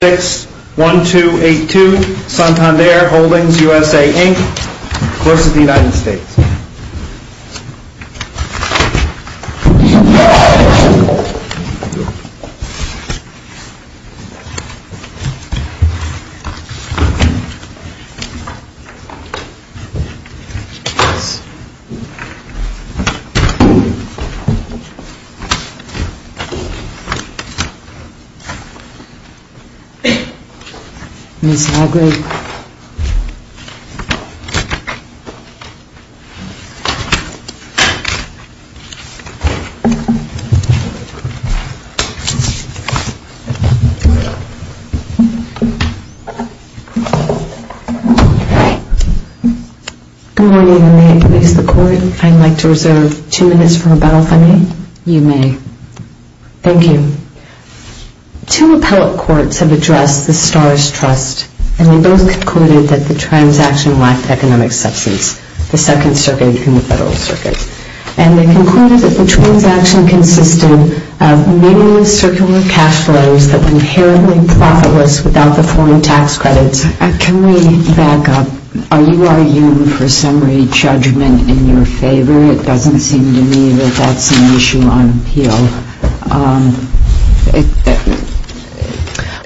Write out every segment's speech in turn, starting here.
61282, Santander Holdings, USA, Inc., Course of the United States. Good morning, and may it please the Court, I'd like to reserve two minutes for rebuttal from me. You may. Thank you. Two appellate courts have addressed the Starrs Trust, and they both concluded that the transaction lacked economic substance, the Second Circuit and the Federal Circuit, and they concluded that the transaction consisted of meaningless circular cash flows that were inherently profitless without the foreign tax credits. Can we back up? Are you arguing for summary judgment in your favor? It doesn't seem to me that that's an issue on appeal.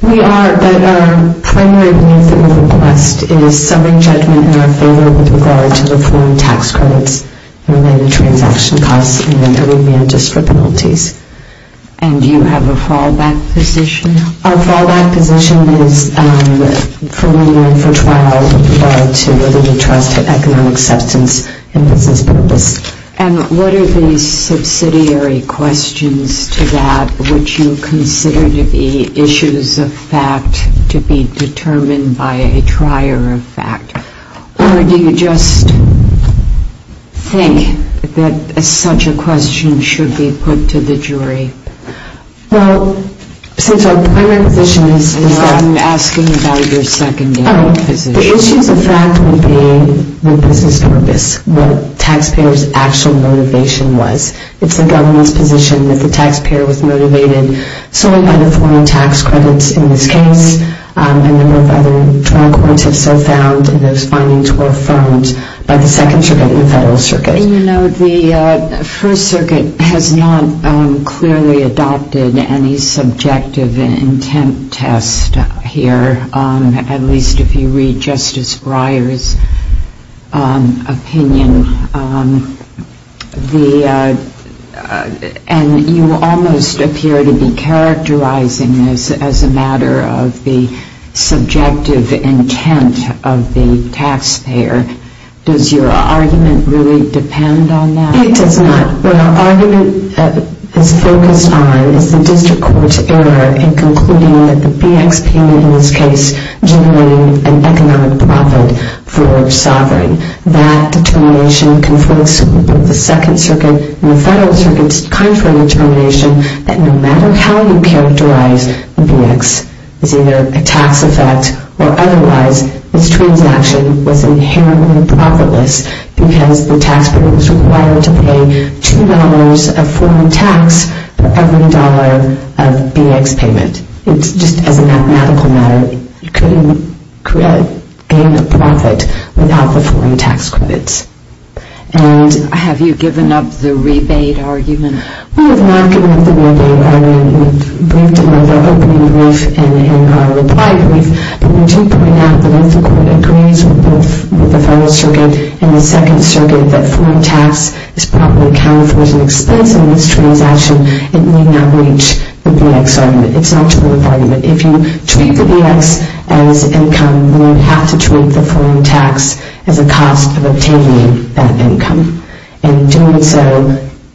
We are, but our primary view of the request is summary judgment in our favor with regard to the foreign tax credits and related transaction costs, and that would be unjust for penalties. And do you have a fallback position? Our fallback position is for me to infer trial with regard to whether the trust had economic substance and business purpose. And what are the subsidiary questions to that which you consider to be issues of fact to be determined by a trier of fact? Or do you just think that such a question should be put to the jury? Well, since our primary position is that... I'm asking about your secondary position. The issues of fact would be the business purpose, what taxpayers' actual motivation was. It's the government's position that the taxpayer was motivated solely by the foreign tax credits in this case. A number of other trial courts have so found, and those findings were affirmed by the Second Circuit and the Federal Circuit. You know, the First Circuit has not clearly adopted any subjective intent test here, at least if you read Justice Breyer's opinion. And you almost appear to be characterizing this as a matter of the subjective intent of the taxpayer. Does your argument really depend on that? It does not. What our argument is focused on is the district court's error in concluding that the BXP in this case generated an economic profit for sovereign. That determination conflicts with the Second Circuit and the Federal Circuit's contrary determination that no matter how you characterize the BX, it's either a tax effect or otherwise this transaction was inherently profitless because the taxpayer was required to pay two dollars of foreign tax for every dollar of BX payment. It's just as a mathematical matter. It couldn't gain a profit without the foreign tax credits. And have you given up the rebate argument? We have not given up the rebate argument. We've briefed them on their opening brief and our reply brief. But we do point out that if the court agrees with the Federal Circuit and the Second Circuit that foreign tax is probably accounted for as an expense in this transaction, it need not reach the BX argument. It's not to the BX argument. If you treat the BX as income, then you have to treat the foreign tax as a cost of obtaining that income. And doing so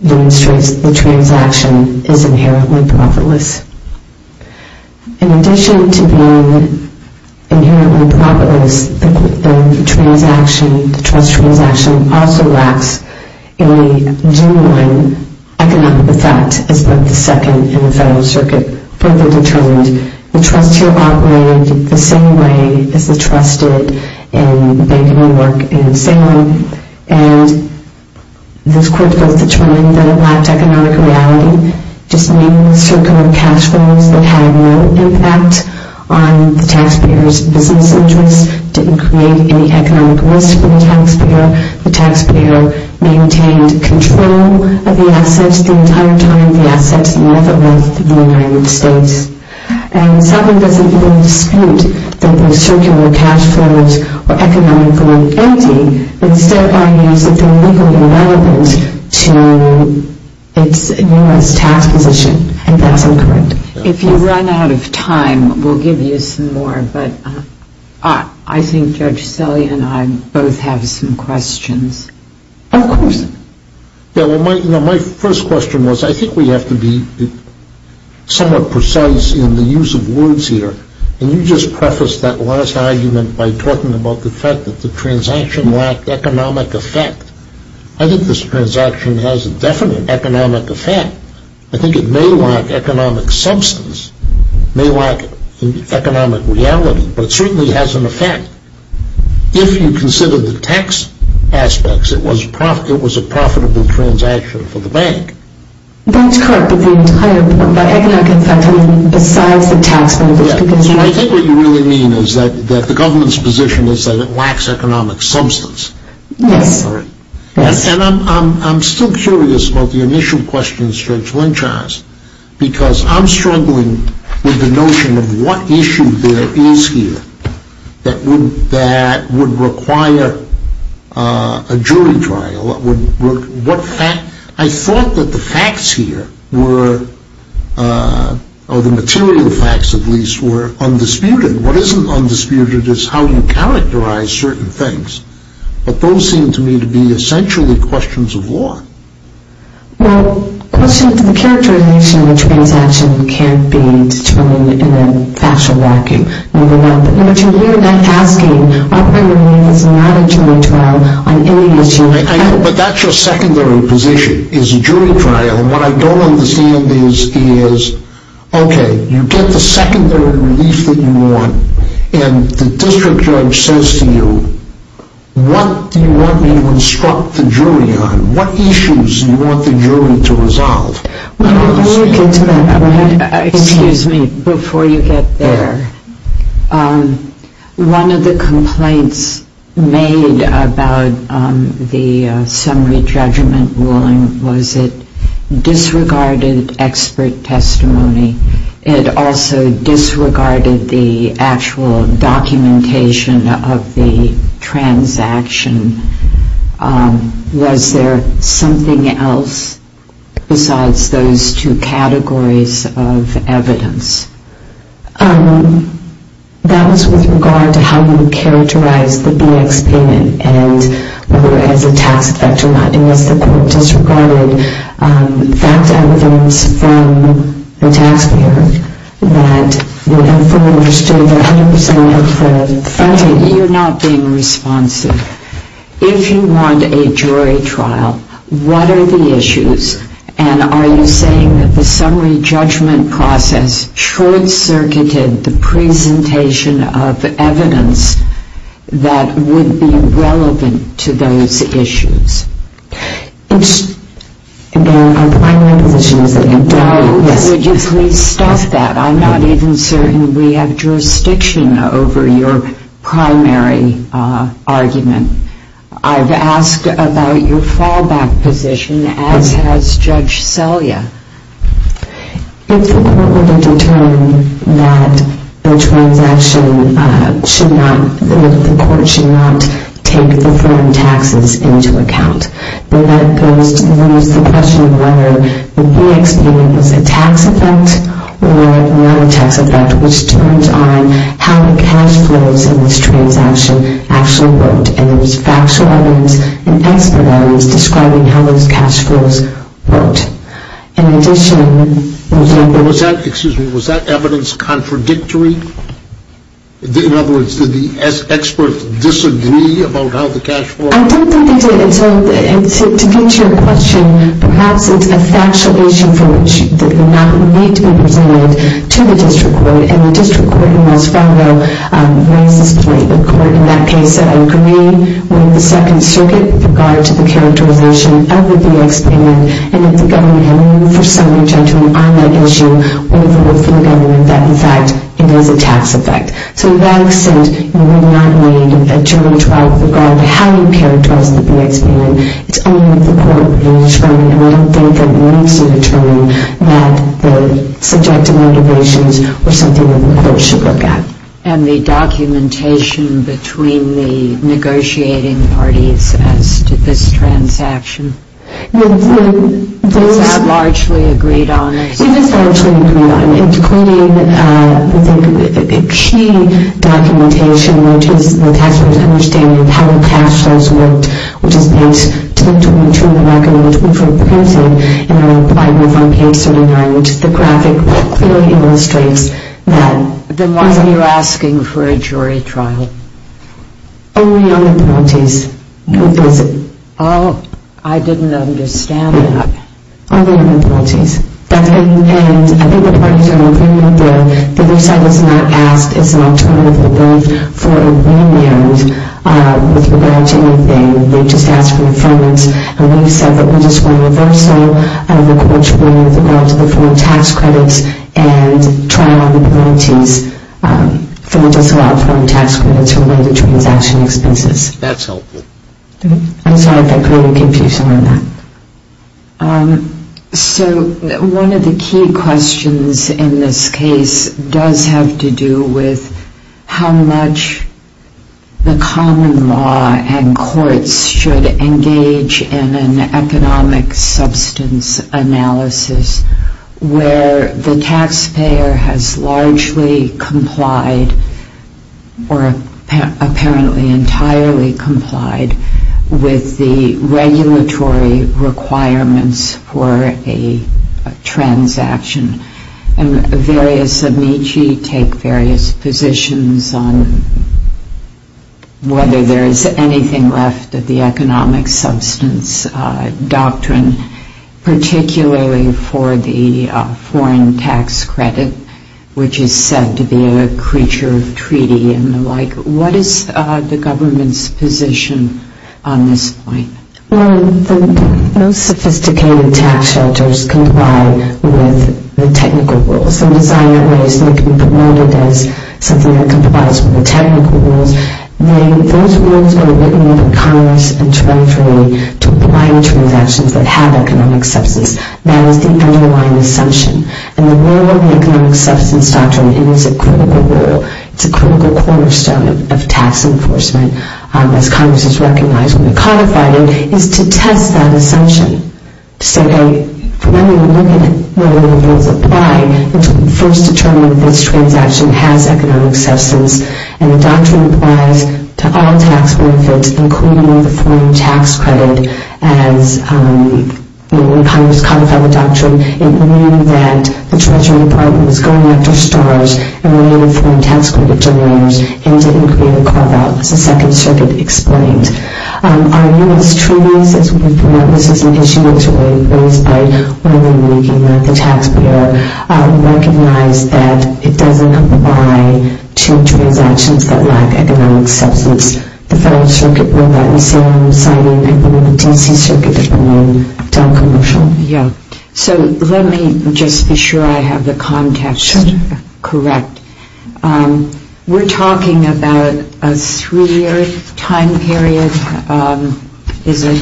demonstrates the transaction is inherently profitless. In addition to being inherently profitless, the transaction, the trust transaction, also lacks a genuine economic effect as both the Second and the Federal Circuit further determined. The trust here operated the same way as the trust did in banking and work in Salem. And this court both determined that it lacked economic reality, just meaning circular cash flows that had no impact on the taxpayer's business interests, didn't create any economic risk for the taxpayer. The taxpayer maintained control of the assets the entire time the assets left the United States. And Salem doesn't even dispute that those circular cash flows were economically empty. Instead, it argues that they're legally relevant to its newest tax position. And that's incorrect. If you run out of time, we'll give you some more. But I think Judge Sully and I both have some questions. Of course. My first question was, I think we have to be somewhat precise in the use of words here. And you just prefaced that last argument by talking about the fact that the transaction lacked economic effect. I think this transaction has a definite economic effect. I think it may lack economic substance. It may lack economic reality. But it certainly has an effect. If you consider the tax aspects, it was a profitable transaction for the bank. That's correct. But the entire economic effect, I mean, besides the tax benefits, because... I think what you really mean is that the government's position is that it lacks economic substance. Yes. And I'm still curious about the initial question, Judge Lynch has. Because I'm struggling with the notion of what issue there is here that would require a jury trial. I thought that the facts here were, or the material facts at least, were undisputed. What isn't undisputed is how you characterize certain things. But those seem to me to be essentially questions of law. Well, questions of the characterization of a transaction can't be determined in a fashion like you moving up. What you're asking is not a jury trial on any issue. But that's your secondary position, is a jury trial. And what I don't understand is, okay, you get the secondary relief that you want and the district judge says to you, what do you want me to instruct the jury on? What issues do you want the jury to resolve? Excuse me, before you get there. One of the complaints made about the summary judgment ruling was it disregarded expert testimony. It also disregarded the actual documentation of the transaction. Was there something else besides those two categories of evidence? That was with regard to how you characterize the BX payment and whether it has a tax effect or not. The point is it disregarded fact evidence from the taxpayer that would have fully understood 100% of the fraud. Okay, you're not being responsive. If you want a jury trial, what are the issues? And are you saying that the summary judgment process short-circuited the presentation of evidence that would be relevant to those issues? Our primary position is that it does. Would you please stop that? I'm not even certain we have jurisdiction over your primary argument. I've asked about your fallback position, as has Judge Selya. If the court were to determine that the transaction should not, that the court should not take the foreign taxes into account, then that goes to the question of whether the BX payment was a tax effect or not a tax effect, which depends on how the cash flows in this transaction actually worked. And there's factual evidence and expert evidence describing how those cash flows worked. In addition... Excuse me, was that evidence contradictory? In other words, did the experts disagree about how the cash flow... I don't think they did. To get to your question, perhaps it's a factual issue for which it would not need to be presented to the district court. And the district court must follow racistly the court in that case that agreed with the Second Circuit with regard to the characterization of the BX payment and that the government had moved, for some reason, on that issue over with the government that, in fact, it was a tax effect. So, in that extent, we would not need a jury trial with regard to how it appeared towards the BX payment. It's only if the court were to determine, and I don't think it needs to determine, that the subjective motivations were something that the court should look at. And the documentation between the negotiating parties as to this transaction? Was that largely agreed on? It was largely agreed on, including the key documentation, which is the taxpayers' understanding of how the cash flows worked, which is linked to the record and which we've reprinted and are implied with on page 79, which is the graphic that clearly illustrates the reason you're asking for a jury trial. Only other parties could visit. Oh, I didn't understand that. Only other parties. And I think the parties are in agreement that they've said it's not asked as an alternative relief for a remand with regard to anything. They've just asked for refinement. And we've said that we're just going to reverse all of the court's ruling with regard to the foreign tax credits and trial the parties for the disallowed foreign tax credits for related transaction expenses. That's helpful. So one of the key questions in this case does have to do with how much the common law and courts should engage in an economic substance analysis where the taxpayer has largely complied or apparently entirely complied with the regulatory requirements for a transaction. And various amici take various positions on whether there is anything left of the economic substance doctrine, particularly for the foreign tax credit, which is said to be a creature of treaty and the like. What is the government's position on this point? Well, the most sophisticated tax shelters comply with the technical rules. Some design ways that can be promoted as something that complies with the technical rules. Those rules are written in the Congress and tried for me to apply to transactions that have economic substance. That is the underlying assumption. And the rule of the economic substance doctrine is a critical rule. It's a critical cornerstone of tax enforcement as Congress has recognized when it codified it is to test that assumption. To say, hey, when we look at whether the rules apply, first determine if this transaction has economic substance. And the doctrine applies to all tax benefits including the foreign tax credit. When Congress codified the doctrine, it knew that the Treasury Department was going after stars and were able to form tax credit generators and didn't create a carve-out, as the Second Circuit explained. Are U.S. treaties, as we promote this as an issue that's really raised by women making the tax payer, recognize that it doesn't apply to transactions that lack economic substance? The Federal Circuit ruled that in Salem, citing a woman, the D.C. Circuit, did not create a loan to a commercial. So let me just be sure I have the context correct. We're talking about a three-year time period. Is it?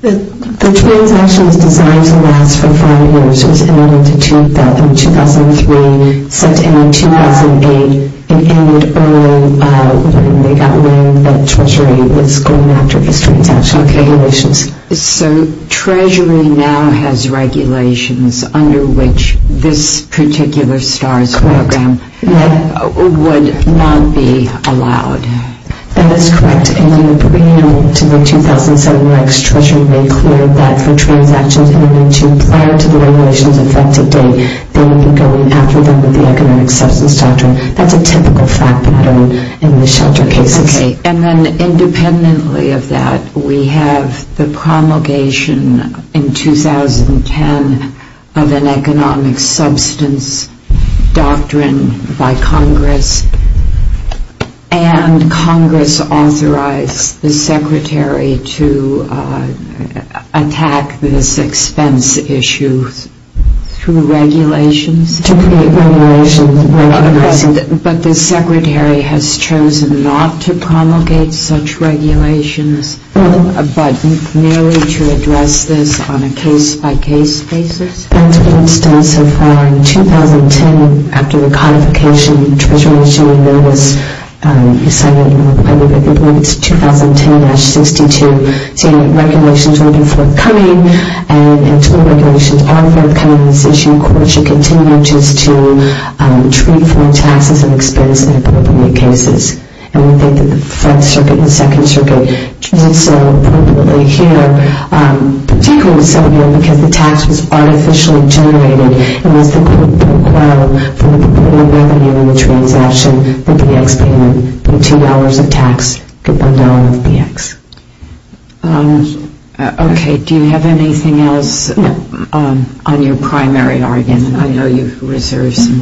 The transaction is designed to last for five years. It was ended in 2003, sent in in 2008, and ended early when they got word that the Treasury was going after this transaction. So Treasury now has regulations under which this particular STARS program would not be allowed. That is correct. In 2007, Treasury made clear that for transactions prior to the regulations effective date, they would be going after them with the economic substance doctrine. That's a typical fact pattern in the shelter cases. Okay, and then independently of that, we have the promulgation in 2010 of an economic substance doctrine by Congress and Congress authorized the Secretary to attack this expense issue through regulations? To pre-regulations. But the Secretary has chosen not to promulgate such regulations but merely to address this on a case-by-case basis. For instance, so far in 2010, after the codification, Treasury issued a notice citing requirements 2010-62 saying that regulations were forthcoming and until regulations are forthcoming this issue in court should continue just to treat for taxes and expense in appropriate cases. And we think that the First Circuit and Second Circuit did so appropriately here particularly in 2007 because the tax was artificially generated and was the equivalent for the revenue in the transaction that the ex-payment for $2 of tax could be $1 of the ex. Okay, do you have anything else on your primary argument? I know you have a question.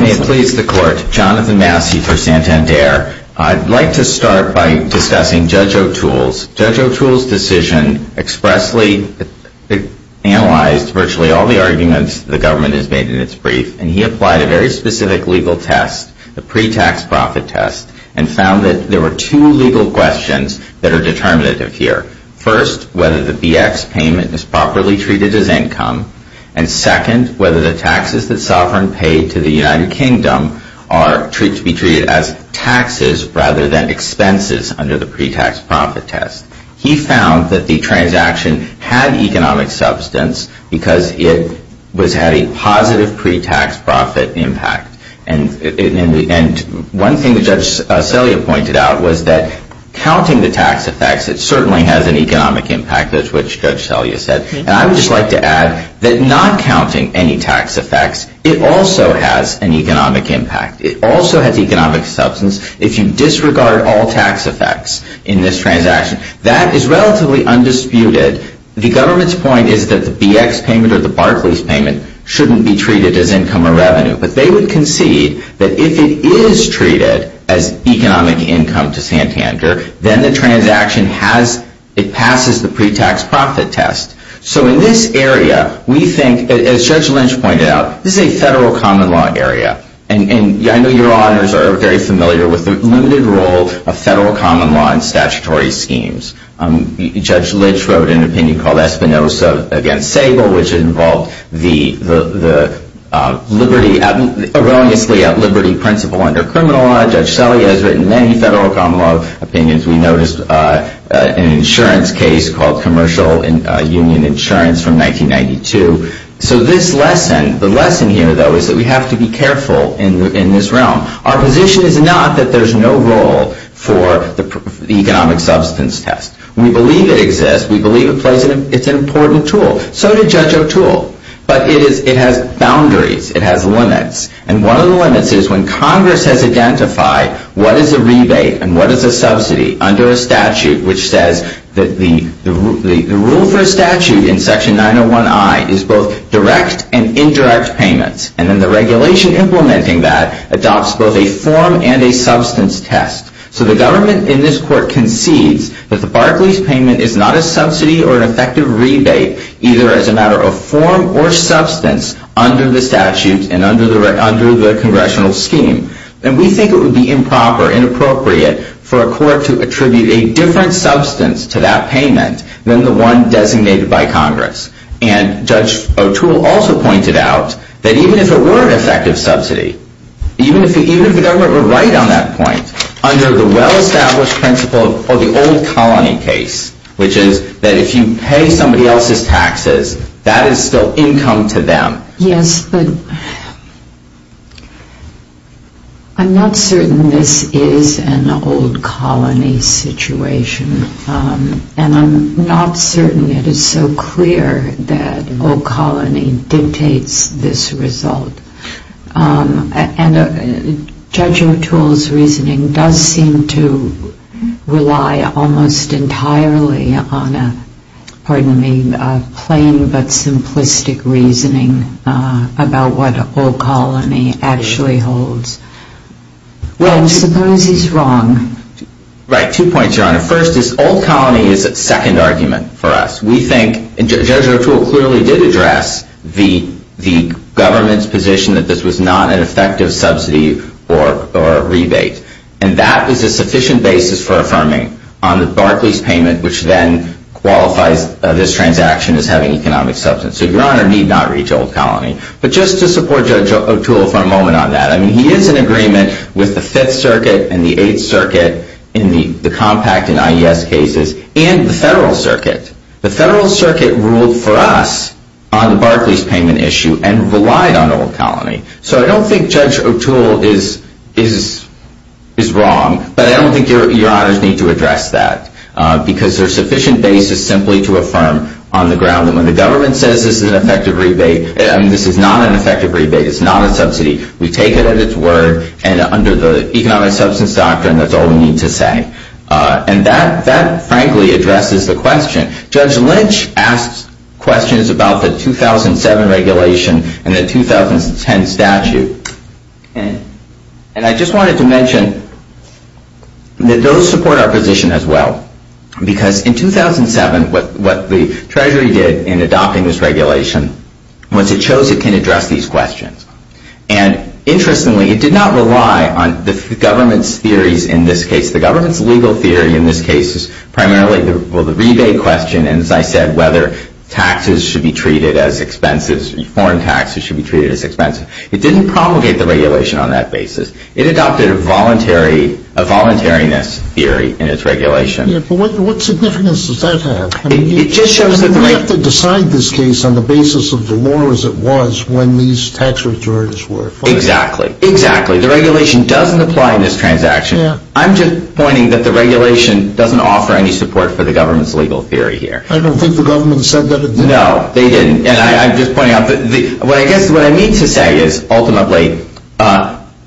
May it please the Court. Jonathan Massey for Santander. I'd like to start by discussing Judge O'Toole's decision. Judge O'Toole's decision expressly analyzed virtually all the arguments the government has made in its brief and he applied a very specific legal test, the pre-tax profit test and found that there were two legal questions that are determinative here. First, whether the BX payment is properly treated as income and second, whether the taxes that Sovereign paid to the United Kingdom are to be treated as taxes rather than expenses under the pre-tax profit test. He found that the transaction had economic substance because it was having positive pre-tax profit impact. And one thing that Judge Selya pointed out was that counting the tax effects, it certainly has an economic impact as which Judge Selya said. And I would just like to add that not counting any tax effects, it also has an economic impact. It also has economic substance. If you disregard all tax effects in this transaction, that is relatively undisputed. The government's point is that the BX payment or the Barclays payment shouldn't be treated as income or revenue. But they would concede that if it is treated as economic income to Santander, then the transaction passes the pre-tax profit test. So in this area, we think, as Judge Lynch pointed out, this is a federal common law area. And I know your auditors are very familiar with the limited role of federal common law in statutory schemes. Judge Lynch wrote an opinion called Espinoza against the liberty erroneously at liberty principle under criminal law. Judge Selya has written many federal common law opinions. We noticed an insurance case called Commercial Union Insurance from 1992. So this lesson, the lesson here, though, is that we have to be careful in this realm. Our position is not that there's no role for the economic substance test. We believe it exists. We believe it's an important tool. So did Judge O'Toole. But it has boundaries. It has limits. And one of the limits is when Congress has identified what is a rebate and what is a subsidy under a statute which says that the rule for a statute in Section 901I is both direct and indirect payments. And then the regulation implementing that adopts both a form and a substance test. So the government in this court concedes that the Barclays payment is not a form or substance under the statute and under the congressional scheme. And we think it would be improper, inappropriate, for a court to attribute a different substance to that payment than the one designated by Congress. And Judge O'Toole also pointed out that even if it were an effective subsidy, even if the government were right on that point, under the well established principle of the old colony case, which is that if you pay somebody else's taxes, that is still income to them. Yes, but I'm not certain this is an old colony situation. And I'm not certain it is so clear that old colony dictates this result. And Judge O'Toole's reasoning does seem to rely almost entirely on a plain but simplistic reasoning about what old colony actually holds. Well, I suppose he's wrong. Right, two points, Your Honor. First is old colony is a second argument for us. We think Judge O'Toole clearly did address the government's position that this was not an effective subsidy or rebate. And that is a sufficient basis for affirming on the Barclays payment, which then qualifies this transaction as having economic substance. So, Your Honor, need not read old colony. But just to support Judge O'Toole for a moment on that, I mean, he is in agreement with the Fifth Circuit and the Eighth Circuit in the compact and IES cases and the Federal Circuit. The Federal Circuit ruled for us on the Barclays payment issue and relied on old colony. So I don't think Judge O'Toole is wrong. But I don't think Your Honors need to address that. Because there is sufficient basis simply to affirm on the ground that when the government says this is an effective rebate, this is not an effective rebate. It's not a subsidy. We take it at its word and under the economic substance doctrine, that's all we need to say. And that frankly addresses the question. Judge Lynch asked questions about the 2007 regulation and the 2010 statute. And I just wanted to mention that those support our position as well. Because in 2007 what the Treasury did in adopting this regulation was it chose it can address these questions. And interestingly, it did not rely on the government's theories in this case. The government's legal theory in this case is primarily the rebate question. And as I said, whether taxes should be treated as expenses, foreign taxes should be treated as expenses. It didn't promulgate the regulation on that basis. It adopted a voluntariness theory in its regulation. But what significance does that have? I mean, you have to decide this case on the basis of the law as it was when these tax returns were filed. Exactly. The regulation doesn't apply in this transaction. I'm just pointing that the regulation doesn't offer any support for the government's legal theory here. I don't think the government said that it did. No, they didn't. And I'm just pointing out that what I need to say is ultimately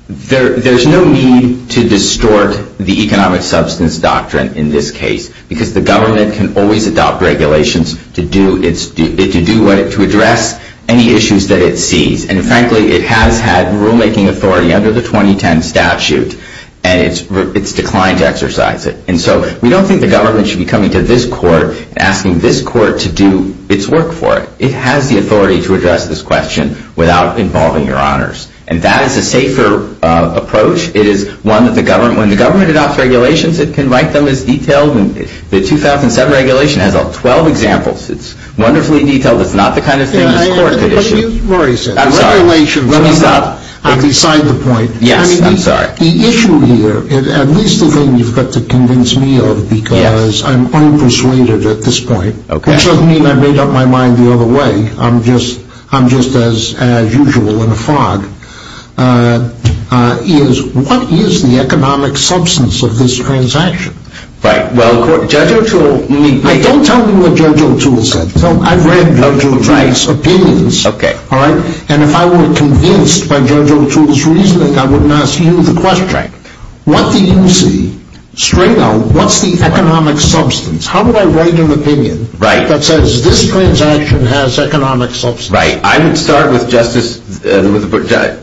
there's no need to distort the economic substance doctrine in this case because the government can always adopt regulations to do what it, to address any issues that it sees. And frankly, it has had rulemaking authority under the 2010 statute and it's declined to exercise it. And so we don't think the government should be coming to this court and asking this court to do its work for it. It has the authority to address this question without involving your honors. And that is a safer approach. It is one that the government, when the government adopts regulations, it can write them as detailed and the 2007 regulation has all 12 examples. It's wonderfully detailed. It's not the kind of thing this court could issue. But you've already said it. I'm sorry. Please stop. I'm beside the point. Yes, I'm sorry. I mean, the issue here is at least the thing you've got to convince me of because I'm persuaded at this point, which doesn't mean I've made up my mind the other way. I'm just as usual in a fog. What is the economic substance of this transaction? Well, Judge O'Toole... Don't tell me what Judge O'Toole said. I've read Judge O'Toole's opinions. And if I were convinced by Judge O'Toole's reasoning, I wouldn't ask you the question. What do you see? Straight out, what's the economic substance? How do I write an opinion that says this transaction has economic substance? Right. I would start with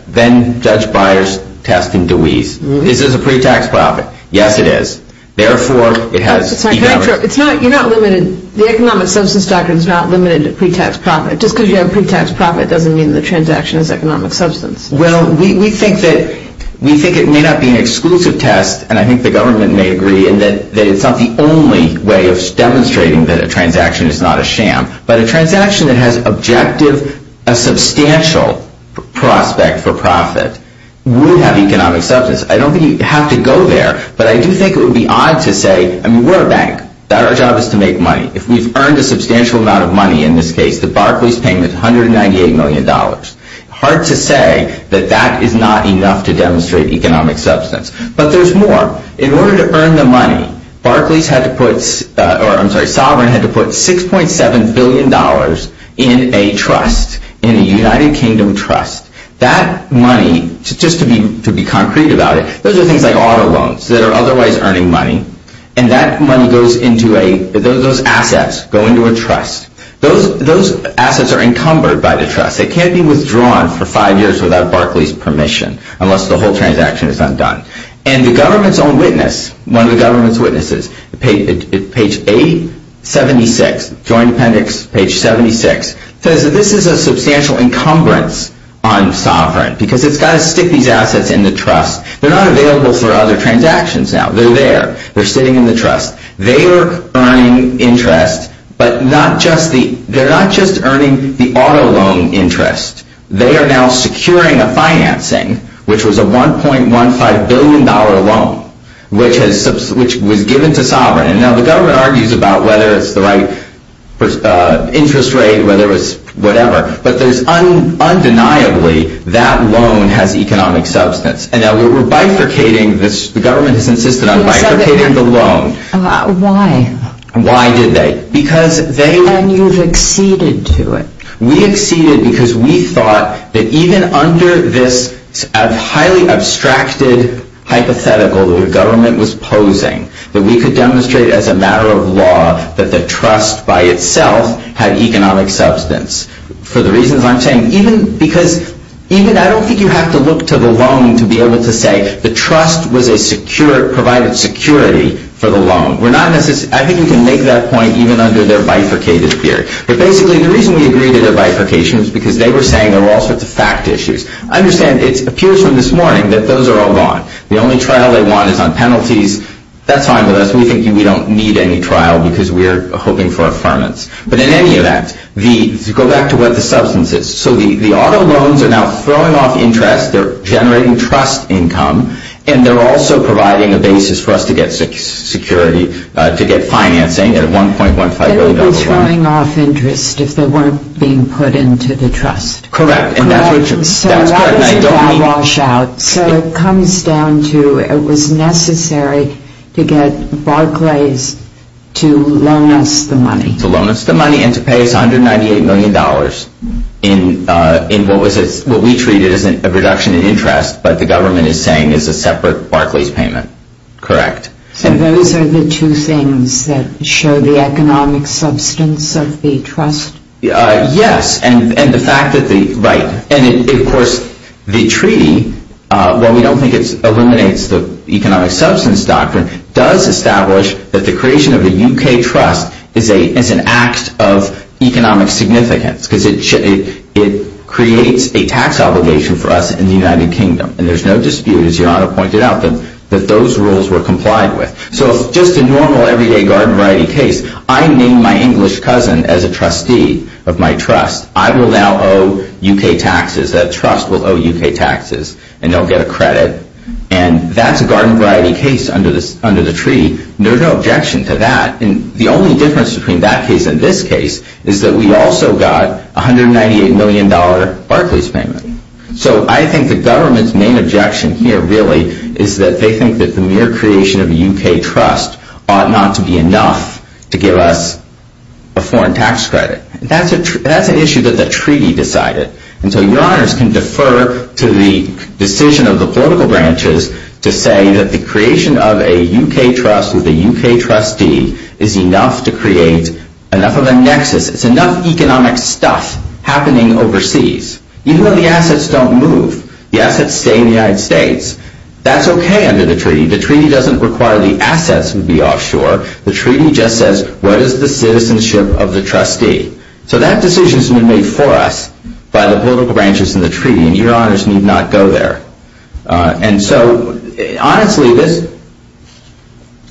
then-Judge Byers' test in Dewey's. Is this a pre-tax profit? Yes, it is. Therefore, it has... You're not limited... The economic substance doctrine is not limited to pre-tax profit. Just because you have pre-tax profit doesn't mean the transaction is economic substance. Well, we think that it may not be an exclusive test and I think the government may agree that it's not the only way of demonstrating that a transaction is not a sham. But a transaction that has objective a substantial prospect for profit would have economic substance. I don't think you have to go there, but I do think it would be odd to say... I mean, we're a bank. Our job is to make money. If we've earned a substantial amount of money, in this case, the Barclays payment, $198 million. Hard to say that that is not enough to demonstrate economic substance, but there's more. In order to earn the money, Barclays had to put... Sovereign had to put $6.7 billion in a trust. In a United Kingdom trust. That money, just to be concrete about it, those are things like auto loans that are otherwise earning money, and that money goes into a... those assets go into a trust. Those assets are encumbered by the trust. It can't be withdrawn for five years without Barclays permission, unless the whole transaction is undone. And the government's own witness, one of the government's witnesses, page 80, 76, Joint Appendix page 76, says that this is a substantial encumbrance on Sovereign, because it's got to stick these assets in the trust. They're not available for other transactions now. They're there. They're sitting in the trust. They are earning interest, but not just the... they're not just earning the auto loan interest. They are now securing a financing, which was a $1.15 billion loan, which was given to Sovereign. And now the government argues about whether it's the right interest rate, whether it's... whatever. But there's undeniably that loan has economic substance. And now we're bifurcating this... the government has insisted on bifurcating the loan. Why? Why did they? Because they... And you've acceded to it. We acceded because we thought that even under this highly abstracted hypothetical that the government was posing, that we could demonstrate as a matter of law that the trust by itself had economic substance. For the reasons I'm saying, even because... even... I don't think you have to look to the loan to be able to say the trust was a secure... provided security for the loan. We're not necessarily... I think you can make that point even under their bifurcated theory. But basically the reason we agreed to their bifurcation is because they were saying there were all sorts of fact issues. Understand, it appears from this morning that those are all gone. The only trial they want is on penalties. That's fine with us. We think we don't need any trial because we're hoping for affirmance. But in any event, the... to go back to what the substance is. So the auto loans are now throwing off interest. They're generating trust income. And they're also providing a basis for us to get security... to get financing at a 1.15 billion dollar loan. They would be throwing off interest if they weren't being put into the trust. Correct. And that's what you... that's correct. So what does that wash out? So it comes down to it was necessary to get Barclays to loan us the money. To loan us the money and to pay us $198 million dollars. In what we treat as a reduction in interest, but the government is saying is a separate Barclays payment. Correct. So those are the two things that show the economic substance of the trust? Yes. And the fact that the... right. And of course the treaty, while we don't think it eliminates the economic substance doctrine, does establish that the creation of the UK trust is an act of economic significance. Because it creates a tax obligation for us in the United Kingdom. And there's no dispute, as Yolanda pointed out, that those rules were complied with. So it's just a normal everyday garden variety case. I named my English cousin as a trustee of my trust. I will now owe UK taxes. That trust will owe UK taxes. And they'll get a credit. And that's a garden variety case under the treaty. There's no objection to that. And the only difference between that case and this case is that we also got $198 million dollar Barclays payment. So I think the government's main objection here really is that they think that the mere creation of a UK trust ought not to be enough to give us a foreign tax credit. And that's an issue that the treaty decided. And so your honors can defer to the decision of the political branches to say that the creation of a UK trust with a UK trustee is enough to create enough of a nexus. It's enough economic stuff happening overseas. Even though the United States, that's okay under the treaty. The treaty doesn't require the assets to be offshore. The treaty just says what is the citizenship of the trustee. So that decision has been made for us by the political branches in the treaty. And your honors need not go there. And so honestly,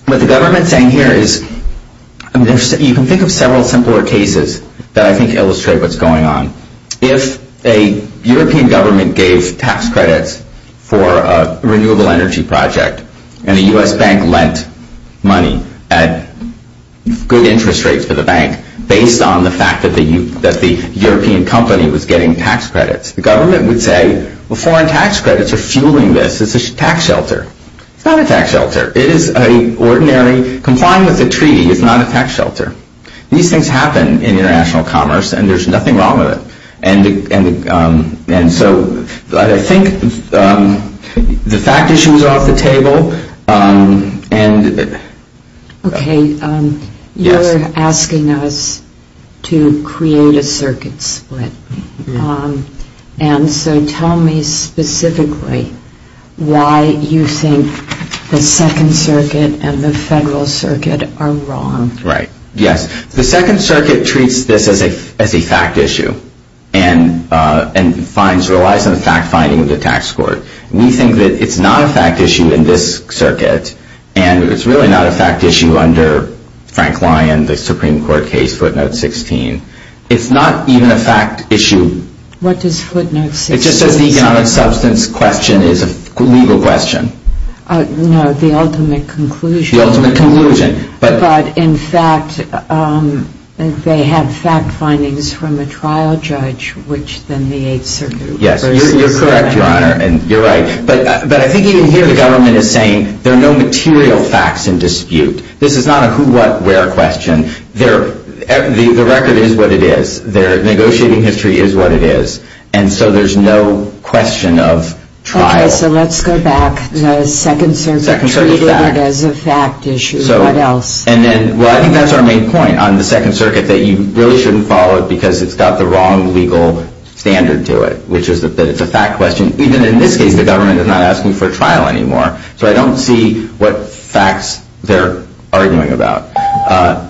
what the government's saying here is you can think of several simpler cases that I think illustrate what's going on. If a European government gave tax credits for a renewable energy project and the US bank lent money at good interest rates for the bank based on the fact that the European company was getting tax credits, the government would say foreign tax credits are fueling this. It's a tax shelter. It's not a tax shelter. It is an ordinary complying with the treaty is not a tax shelter. These things happen in international commerce and there's nothing wrong with it. And so I think the fact issues are off the table. Okay. You're asking us to create a circuit split. And so tell me specifically why you think the Second Circuit and the Federal Circuit are wrong. The Second Circuit treats this as a fact issue and relies on the fact finding of the tax court. We think that it's not a fact issue in this circuit and it's really not a fact issue under Frank Lyon, the Supreme Court case, footnote 16. It's not even a fact issue. It just says the economic substance question is a legal question. The ultimate conclusion. But in fact they had fact findings from a trial judge which then the Eighth Circuit Yes, you're correct, Your Honor, and you're right. But I think even here the government is saying there are no material facts in dispute. This is not a who, what, where question. The record is what it is. Their negotiating history is what it is. And so there's no question of trial. Okay, so let's go back to the Second Circuit treating it as a fact issue. I think that's our main point on the Second Circuit that you really shouldn't follow it because it's got the wrong legal standard to it. Which is that it's a fact question. Even in this case the government is not asking for trial anymore. So I don't see what facts they're arguing about.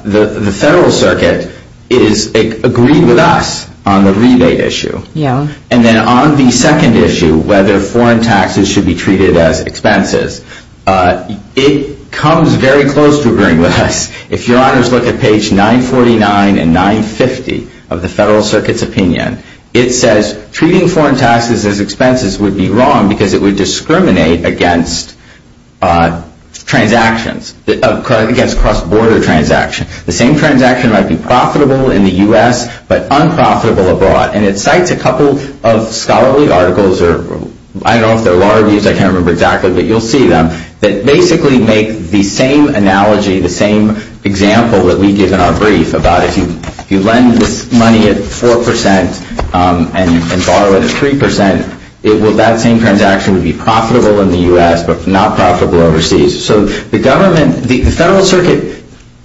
The Federal Circuit is agreed with us on the rebate issue. And then on the second issue, whether foreign taxes should be treated as expenses, it comes very close to agreeing with us. If Your Honors look at page 949 and 950 of the Federal Circuit's opinion, it says treating foreign taxes as expenses would be wrong because it would discriminate against transactions, against cross-border transactions. The same transaction might be profitable in the U.S. but unprofitable abroad. And it cites a couple of scholarly articles, or I don't know if they're law reviews, I can't remember exactly, but you'll see them, that basically make the same analogy, the same example that we give in our brief about if you lend this money at 4% and borrow it at 3%, that same transaction would be profitable in the U.S. but not profitable overseas. So the government, the Federal Circuit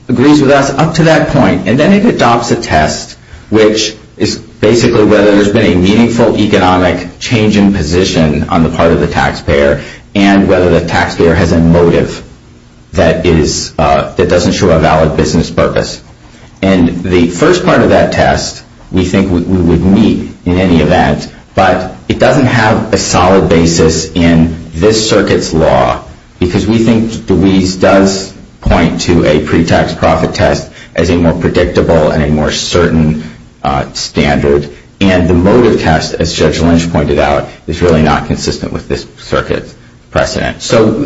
agrees with us up to that point. And then it adopts a test which is basically whether there's been a meaningful economic change in position on the part of the taxpayer and whether the taxpayer has a motive that doesn't show a valid business purpose. And the first part of that test we think we would meet in any event but it doesn't have a solid basis in this Circuit's law because we think DeWeese does point to a pre-tax profit test as a more predictable and a more certain standard. And the motive test, as Judge Lynch pointed out, is really not consistent with this Circuit's precedent. So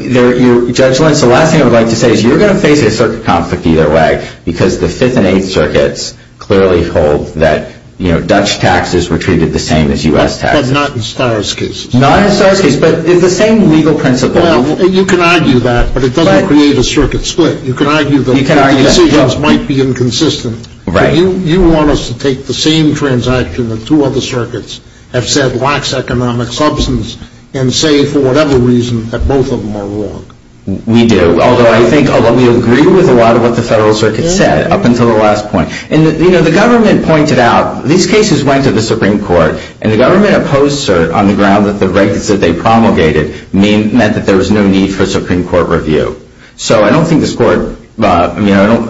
Judge Lynch, the last thing I would like to say is you're going to face a Circuit conflict either way because the 5th and 8th Circuits clearly hold that Dutch taxes were treated the same as U.S. taxes. But not in Starr's case. Not in Starr's case, but it's the same legal principle. Well, you can argue that, but it doesn't create a Circuit split. You can argue that the decisions might be inconsistent. Right. But you want us to take the same transaction that two other Circuits have said lacks economic substance and say for whatever reason that both of them are wrong. We do. Although I think we agree with a lot of what the Federal Circuit said up until the last point. And, you know, the government pointed out these cases went to the Supreme Court and the government opposed cert on the ground that the records that they promulgated meant that there was no need for Supreme Court review. So I don't think this Court I mean, I don't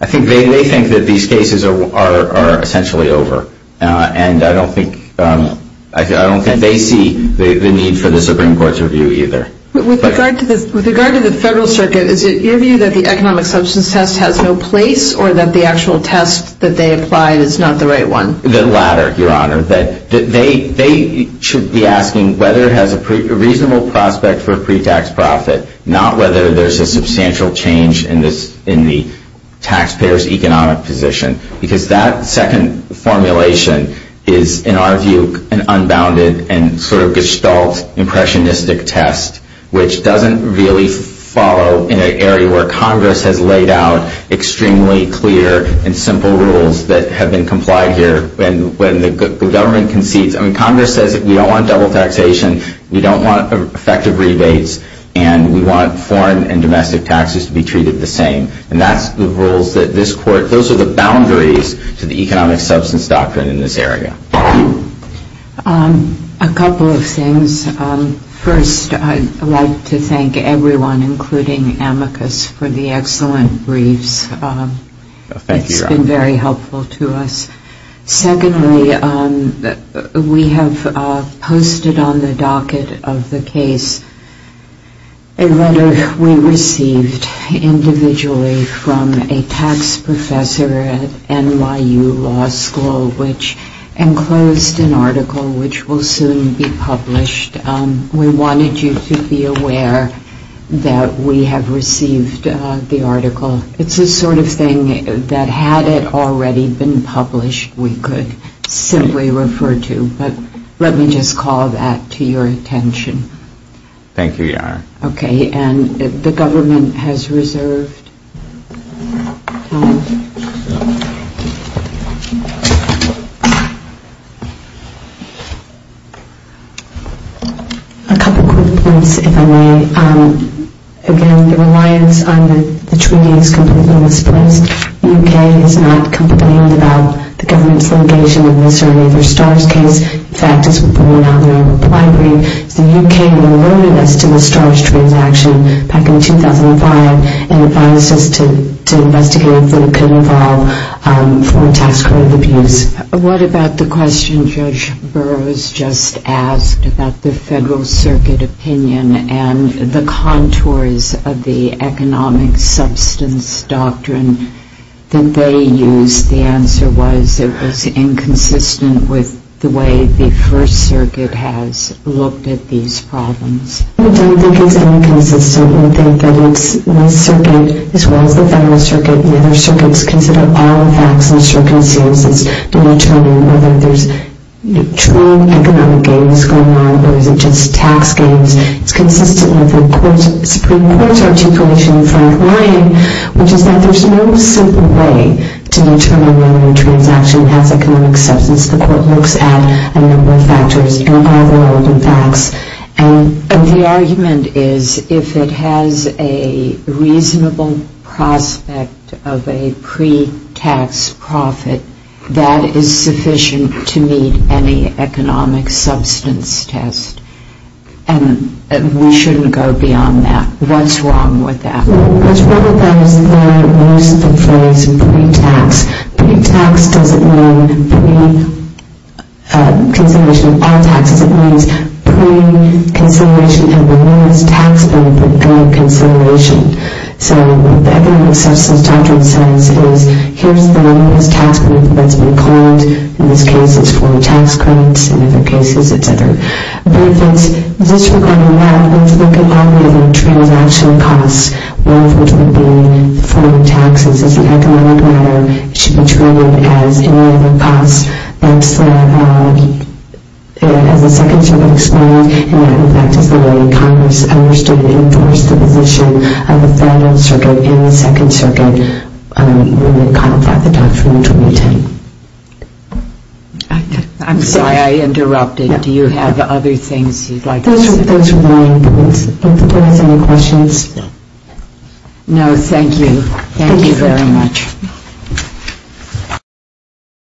I think they think that these cases are essentially over. And I don't think I don't think they see the need for the Supreme Court's review either. With regard to the Federal Circuit is it your view that the economic substance test has no place or that the actual test that they applied is not the right one? The latter, Your Honor. They should be asking whether it has a reasonable prospect for pre-tax profit not whether there's a substantial change in the taxpayer's economic position. Because that second formulation is, in our view, an unbounded and sort of gestalt impressionistic test which doesn't really follow in an area where Congress has laid out extremely clear and simple rules that have been complied here when the government concedes. I mean, Congress says we don't want double taxation, we don't want effective rebates, and we want foreign and domestic taxes to be treated the same. And that's the rules that this Court, those are the boundaries to the economic substance doctrine in this area. A couple of things. First, I'd like to thank everyone, including Amicus, for the excellent briefs. It's been very helpful to us. Secondly, we have posted on the docket of the case a letter we received individually from a tax professor at NYU Law School which enclosed an article which will soon be published. We wanted you to be aware that we have received the article. It's the sort of thing that had it already been published, we could simply refer to. But let me just call that to your attention. Thank you, Your Honor. The government has reserved time. A couple quick points, if I may. Again, the reliance on the treaty is completely misplaced. The UK is not complaining about the government's litigation of the Sir Laver Starr's case. In fact, as we pointed out in our reply brief, the UK had alerted us to the Starr's transaction back in 2005 and advised us to investigate if it could involve foreign tax credit abuse. What about the question Judge Burroughs just asked about the Federal Circuit opinion and the contours of the economic substance doctrine that they used? The answer was it was inconsistent with the way the First Circuit has looked at these problems. We don't think it's inconsistent. We think that it's the Circuit, as well as the Federal Circuit, and the other Circuits, consider all the facts and circumstances to determine whether there's true economic gains going on or is it just tax gains. It's consistent with the Supreme Court's articulation in Frank Ryan, which is that there's no simple way to determine whether a transaction has economic substance. The Court looks at a number of factors and all the relevant facts. And the argument is if it has a reasonable prospect of a pre-tax profit, that is sufficient to meet any economic substance test. And we shouldn't go beyond that. What's wrong with that? What's wrong with that is they use the phrase pre-tax. Pre-tax doesn't mean pre-consideration of all taxes. It means pre-consideration of the lowest tax benefit going to consideration. So the economic substance doctrine says here's the lowest tax benefit that's been claimed. In this case, it's for tax credits. In other cases, it's other benefits. And just regarding that, let's look at all the other transaction costs, one of which would be foreign taxes as an economic matter. It should be treated as any other cost. That's the second to be explained, and that in fact is the way Congress understood and enforced the position of the Federal Circuit and the Second Circuit when they contemplated the doctrine in 2010. I'm sorry I interrupted. Do you have other things you'd like to say? That's fine. Don't the board have any questions? No, thank you. Thank you very much.